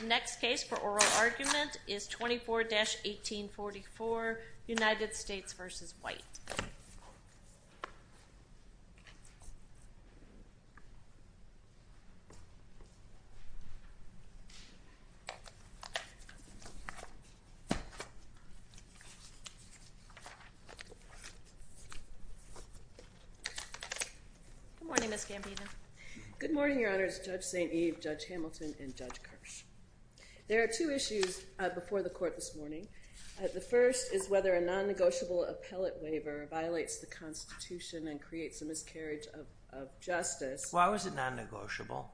The next case for oral argument is 24-1844, United States v. White. Good morning, Ms. Gambino. Good morning, Your Honors. Judge St. Eve, Judge Hamilton, and Judge Kirsch. There are two issues before the Court this morning. The first is whether a non-negotiable appellate waiver violates the Constitution and creates a miscarriage of justice. Why was it non-negotiable?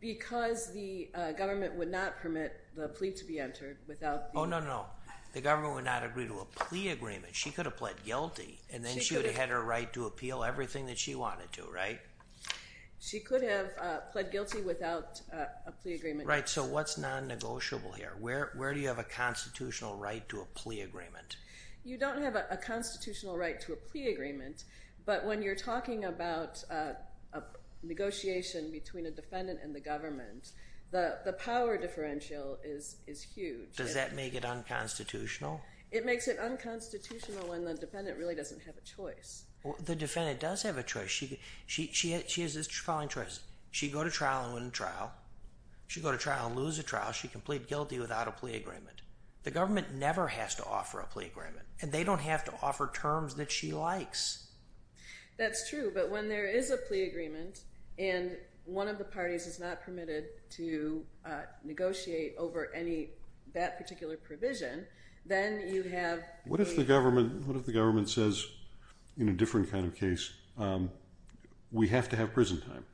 Because the government would not permit the plea to be entered without the... Oh, no, no, no. The government would not agree to a plea agreement. She could have pled guilty, and then she would have had her right to appeal everything that she wanted to, right? She could have pled guilty without a plea agreement. Right. So what's non-negotiable here? Where do you have a constitutional right to a plea agreement? You don't have a constitutional right to a plea agreement, but when you're talking about a negotiation between a defendant and the government, the power differential is huge. Does that make it unconstitutional? It makes it unconstitutional when the defendant really doesn't have a choice. The defendant does have a choice. She has this calling choice. She'd go to trial and win the trial. She'd go to trial and lose the trial. She'd plead guilty without a plea agreement. The government never has to offer a plea agreement, and they don't have to offer terms that she likes. That's true, but when there is a plea agreement and one of the parties is not permitted to negotiate over that particular provision, then you have... What if the government says, in a different kind of case, we have to have prison time?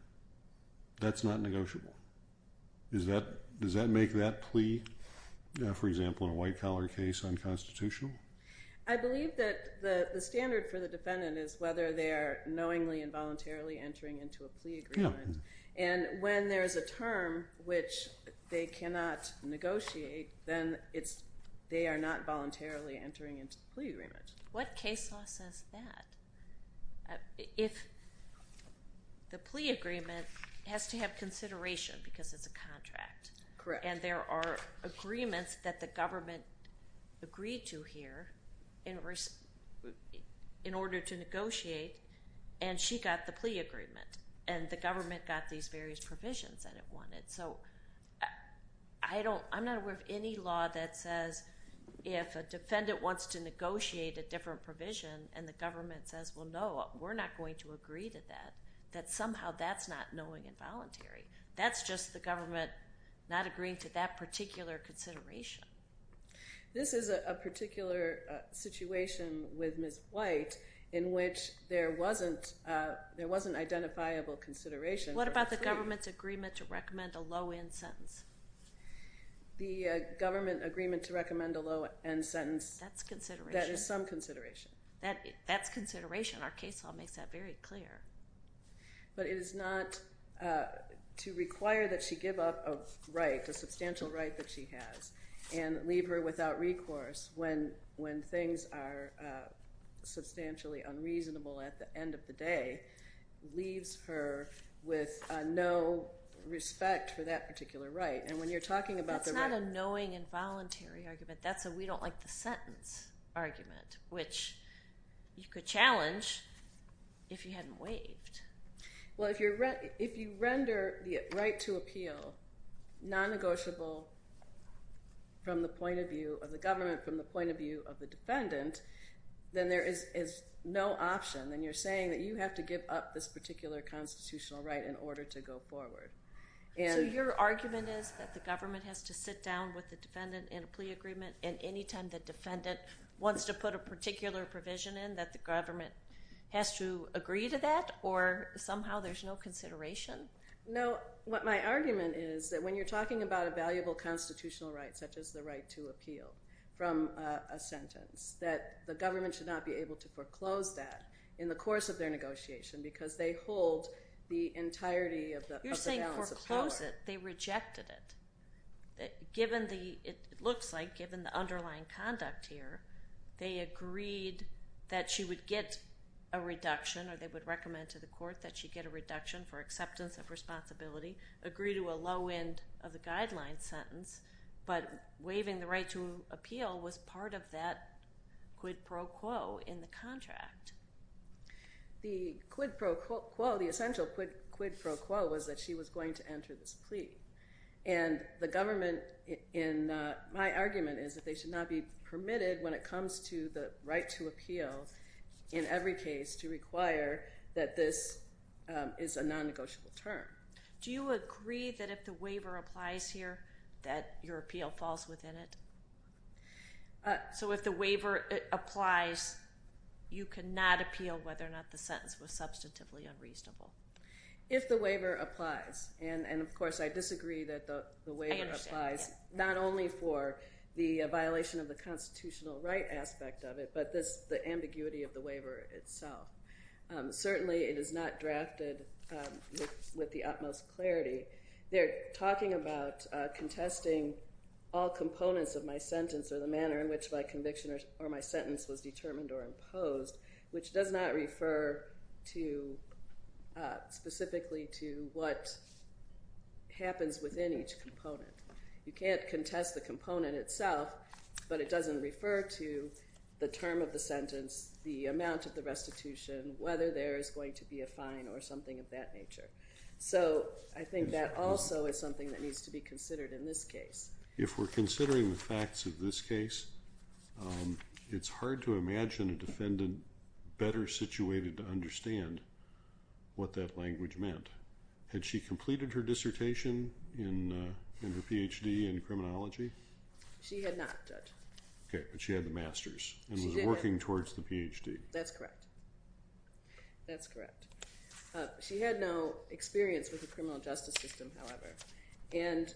That's not negotiable. Does that make that plea, for example, in a white-collar case, unconstitutional? I believe that the standard for the defendant is whether they are knowingly and voluntarily entering into a plea agreement. And when there is a term which they cannot negotiate, then they are not voluntarily entering into the plea agreement. What case law says that? If the plea agreement has to have consideration because it's a contract... Correct. And there are agreements that the government agreed to here in order to negotiate, and she got the plea agreement, and the government got these various provisions that it wanted. So I'm not aware of any law that says if a defendant wants to negotiate a different provision and the government says, well, no, we're not going to agree to that, that somehow that's not knowing and voluntary. That's just the government not agreeing to that particular consideration. This is a particular situation with Ms. White in which there wasn't identifiable consideration. What about the government's agreement to recommend a low-end sentence? The government agreement to recommend a low-end sentence... That's consideration. That is some consideration. That's consideration. Our case law makes that very clear. But it is not to require that she give up a right, a substantial right that she has, and leave her without recourse when things are substantially unreasonable at the end of the day leaves her with no respect for that particular right. And when you're talking about the right... That's not a knowing and voluntary argument. That's a we-don't-like-the-sentence argument, which you could challenge if you hadn't waived. Well, if you render the right to appeal non-negotiable from the point of view of the government, from the point of view of the defendant, then there is no option. Then you're saying that you have to give up this particular constitutional right in order to go forward. So your argument is that the government has to sit down with the defendant in a plea agreement, and any time the defendant wants to put a particular provision in, that the government has to agree to that, or somehow there's no consideration? No. What my argument is that when you're talking about a valuable constitutional right, such as the right to appeal from a sentence, that the government should not be able to foreclose that in the course of their negotiation because they hold the entirety of the balance of power. You're saying foreclose it. They rejected it. It looks like given the underlying conduct here, they agreed that she would get a reduction, or they would recommend to the court that she get a reduction for acceptance of responsibility, agree to a low end of the guideline sentence, but waiving the right to appeal was part of that quid pro quo in the contract. The quid pro quo, the essential quid pro quo was that she was going to enter this plea, and the government in my argument is that they should not be permitted when it comes to the right to appeal, in every case, to require that this is a non-negotiable term. Do you agree that if the waiver applies here that your appeal falls within it? So if the waiver applies, you cannot appeal whether or not the sentence was substantively unreasonable? If the waiver applies, and, of course, I disagree that the waiver applies, not only for the violation of the constitutional right aspect of it, but the ambiguity of the waiver itself. Certainly it is not drafted with the utmost clarity. They're talking about contesting all components of my sentence or the manner in which my conviction or my sentence was determined or imposed, which does not refer specifically to what happens within each component. You can't contest the component itself, but it doesn't refer to the term of the sentence, the amount of the restitution, whether there is going to be a fine or something of that nature. So I think that also is something that needs to be considered in this case. If we're considering the facts of this case, it's hard to imagine a defendant better situated to understand what that language meant. Had she completed her dissertation in her Ph.D. in criminology? She had not, Judge. Okay, but she had the Master's and was working towards the Ph.D. That's correct. That's correct. She had no experience with the criminal justice system, however. And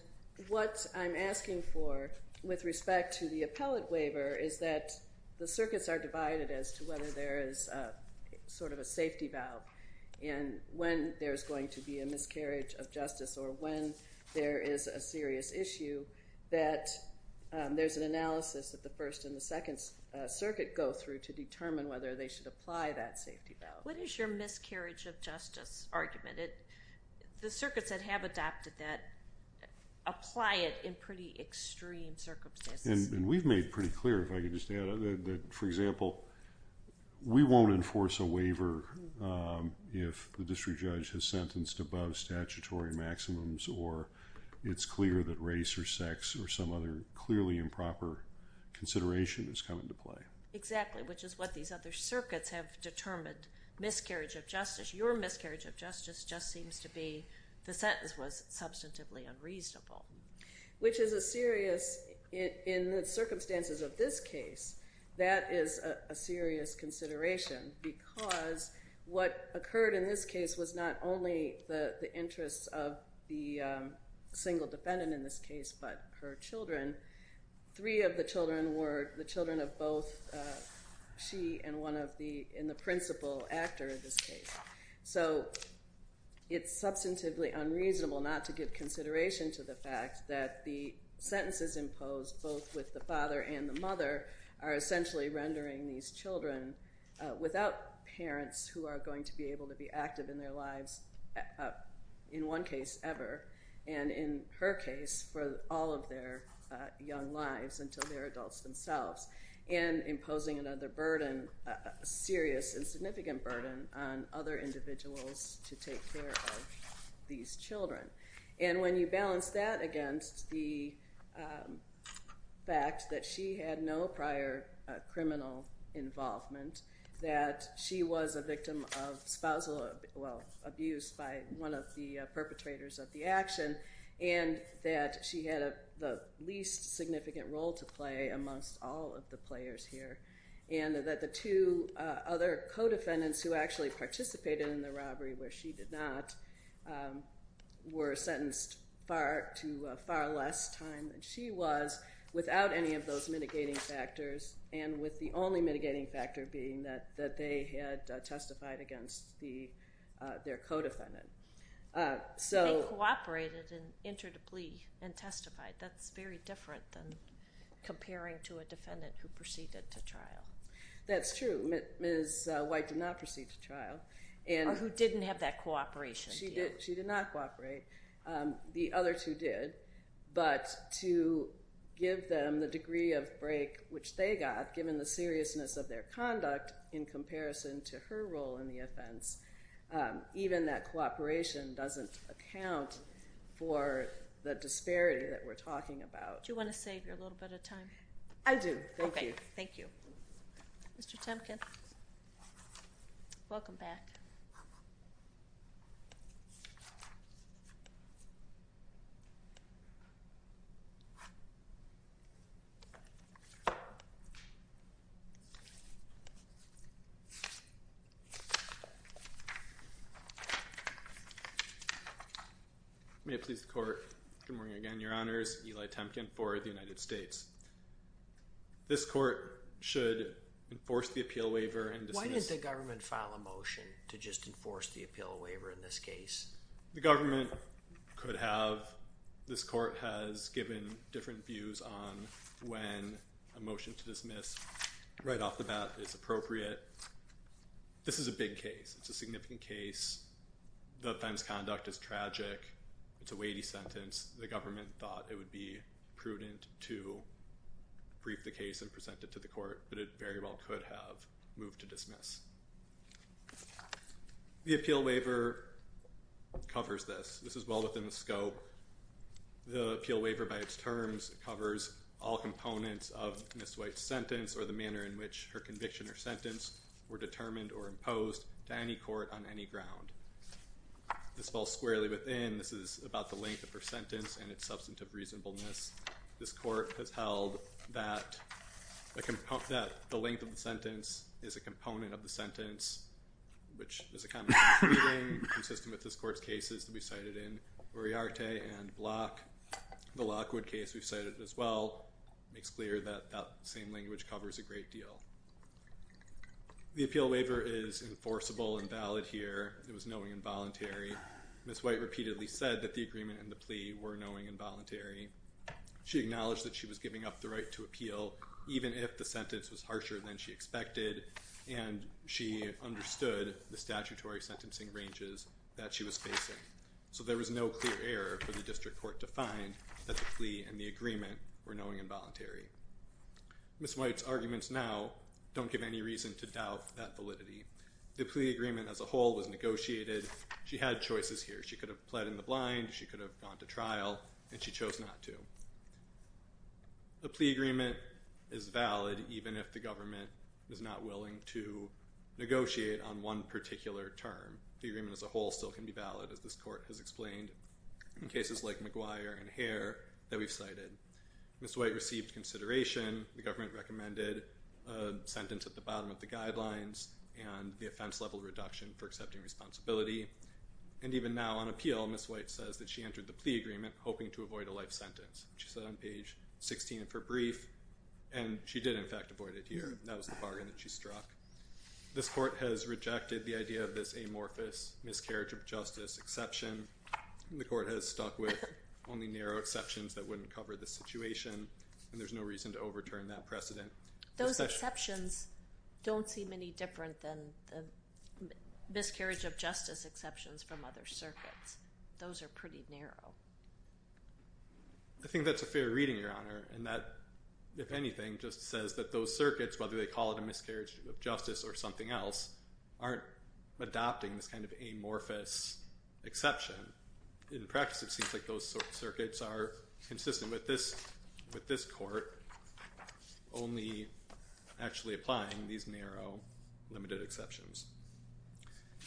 what I'm asking for with respect to the appellate waiver is that the circuits are divided as to whether there is sort of a safety valve and when there's going to be a miscarriage of justice or when there is a serious issue that there's an analysis that the First and the Second Circuit go through to determine whether they should apply that safety valve. What is your miscarriage of justice argument? The circuits that have adopted that apply it in pretty extreme circumstances. And we've made pretty clear, if I could just add, that, for example, we won't enforce a waiver if the district judge has sentenced above statutory maximums or it's clear that race or sex or some other clearly improper consideration has come into play. Exactly, which is what these other circuits have determined, miscarriage of justice. Your miscarriage of justice just seems to be the sentence was substantively unreasonable. Which is a serious, in the circumstances of this case, that is a serious consideration because what occurred in this case was not only the interests of the single defendant in this case but her children. Three of the children were the children of both she and the principal actor in this case. So it's substantively unreasonable not to give consideration to the fact that the sentences imposed, both with the father and the mother, are essentially rendering these children without parents who are going to be able to be active in their lives in one case ever. And in her case, for all of their young lives until they're adults themselves, and imposing another burden, a serious and significant burden, on other individuals to take care of these children. And when you balance that against the fact that she had no prior criminal involvement, that she was a victim of spousal abuse by one of the perpetrators of the action, and that she had the least significant role to play amongst all of the players here, and that the two other co-defendants who actually participated in the robbery where she did not were sentenced to far less time than she was without any of those mitigating factors, and with the only mitigating factor being that they had testified against their co-defendant. They cooperated and entered a plea and testified. That's very different than comparing to a defendant who proceeded to trial. That's true. Ms. White did not proceed to trial. Or who didn't have that cooperation. She did not cooperate. The other two did. But to give them the degree of break which they got given the seriousness of their conduct in comparison to her role in the offense, even that cooperation doesn't account for the disparity that we're talking about. Do you want to save your little bit of time? I do. Thank you. Thank you. Mr. Temkin, welcome back. Thank you. May it please the Court. Good morning again, Your Honors. Eli Temkin for the United States. This Court should enforce the appeal waiver and dismiss— Why did the government file a motion to just enforce the appeal waiver in this case? The government could have. This Court has given different views on when a motion to dismiss right off the bat is appropriate. This is a big case. It's a significant case. The offense conduct is tragic. It's a weighty sentence. The government thought it would be prudent to brief the case and present it to the Court. But it very well could have moved to dismiss. The appeal waiver covers this. This is well within the scope. The appeal waiver by its terms covers all components of Ms. White's sentence or the manner in which her conviction or sentence were determined or imposed to any court on any ground. This falls squarely within. This is about the length of her sentence and its substantive reasonableness. This Court has held that the length of the sentence is a component of the sentence, which is a common-sense ruling consistent with this Court's cases that we've cited in Uriarte and Block. The Lockwood case we've cited as well makes clear that that same language covers a great deal. The appeal waiver is enforceable and valid here. It was knowing and voluntary. Ms. White repeatedly said that the agreement and the plea were knowing and voluntary. She acknowledged that she was giving up the right to appeal even if the sentence was harsher than she expected, and she understood the statutory sentencing ranges that she was facing. So there was no clear error for the district court to find that the plea and the agreement were knowing and voluntary. Ms. White's arguments now don't give any reason to doubt that validity. The plea agreement as a whole was negotiated. She had choices here. She could have pled in the blind, she could have gone to trial, and she chose not to. The plea agreement is valid even if the government is not willing to negotiate on one particular term. The agreement as a whole still can be valid, as this Court has explained, in cases like McGuire and Hare that we've cited. Ms. White received consideration. The government recommended a sentence at the bottom of the guidelines and the offense level reduction for accepting responsibility. And even now on appeal, Ms. White says that she entered the plea agreement hoping to avoid a life sentence. She said on page 16 of her brief, and she did in fact avoid it here. That was the bargain that she struck. This Court has rejected the idea of this amorphous miscarriage of justice exception. The Court has stuck with only narrow exceptions that wouldn't cover this situation, and there's no reason to overturn that precedent. Those exceptions don't seem any different than the miscarriage of justice exceptions from other circuits. Those are pretty narrow. I think that's a fair reading, Your Honor, and that, if anything, just says that those circuits, whether they call it a miscarriage of justice or something else, aren't adopting this kind of amorphous exception. In practice, it seems like those circuits are consistent with this Court, only actually applying these narrow limited exceptions.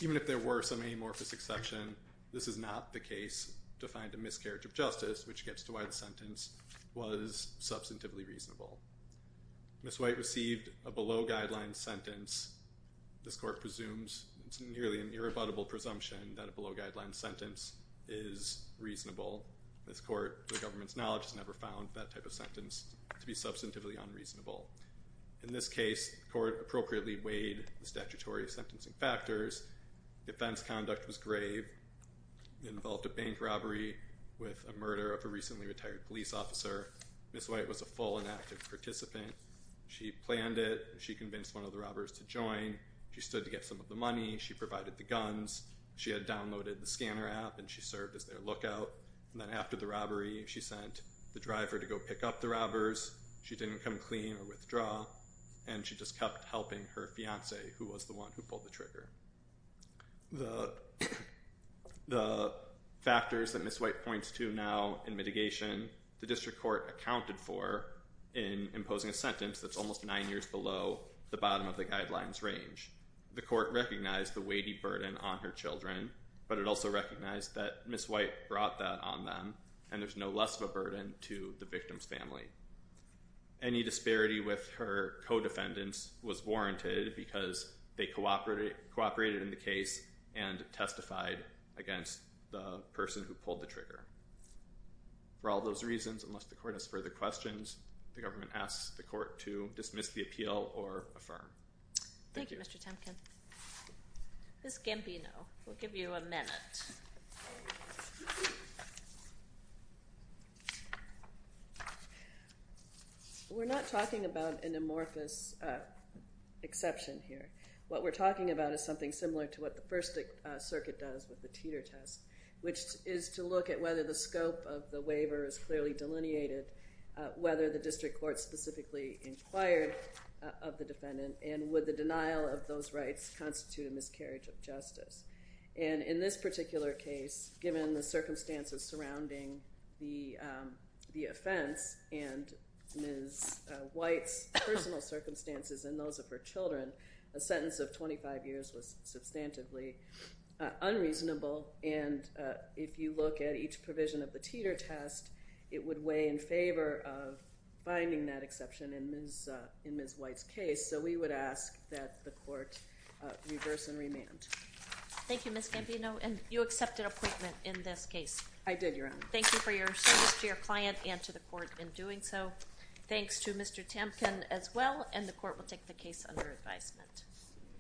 Even if there were some amorphous exception, this is not the case to find a miscarriage of justice, which gets to why the sentence was substantively reasonable. Ms. White received a below-guidelines sentence. This Court presumes, it's nearly an irrebuttable presumption, that a below-guidelines sentence is reasonable. This Court, to the government's knowledge, has never found that type of sentence to be substantively unreasonable. In this case, the Court appropriately weighed the statutory sentencing factors. Defense conduct was grave. It involved a bank robbery with a murder of a recently retired police officer. Ms. White was a full and active participant. She planned it. She convinced one of the robbers to join. She stood to get some of the money. She provided the guns. She had downloaded the scanner app, and she served as their lookout. And then after the robbery, she sent the driver to go pick up the robbers. She didn't come clean or withdraw, and she just kept helping her fiancé, who was the one who pulled the trigger. The factors that Ms. White points to now in mitigation, the District Court accounted for in imposing a sentence that's almost nine years below the bottom of the guidelines range. The Court recognized the weighty burden on her children, but it also recognized that Ms. White brought that on them, and there's no less of a burden to the victim's family. Any disparity with her co-defendants was warranted because they cooperated in the case and testified against the person who pulled the trigger. For all those reasons, unless the Court has further questions, the government asks the Court to dismiss the appeal or affirm. Thank you. Thank you, Mr. Temkin. Ms. Gambino, we'll give you a minute. We're not talking about an amorphous exception here. What we're talking about is something similar to what the First Circuit does with the Teeter test, which is to look at whether the scope of the waiver is clearly delineated, whether the District Court specifically inquired of the defendant, and would the denial of those rights constitute a miscarriage of justice. In this particular case, given the circumstances surrounding the offense and Ms. White's personal circumstances and those of her children, a sentence of 25 years was substantively unreasonable, and if you look at each provision of the Teeter test, it would weigh in favor of finding that exception in Ms. White's case. So we would ask that the Court reverse and remand. Thank you, Ms. Gambino, and you accepted appointment in this case. I did, Your Honor. Thank you for your service to your client and to the Court in doing so. Thanks to Mr. Temkin as well, and the Court will take the case under advisement.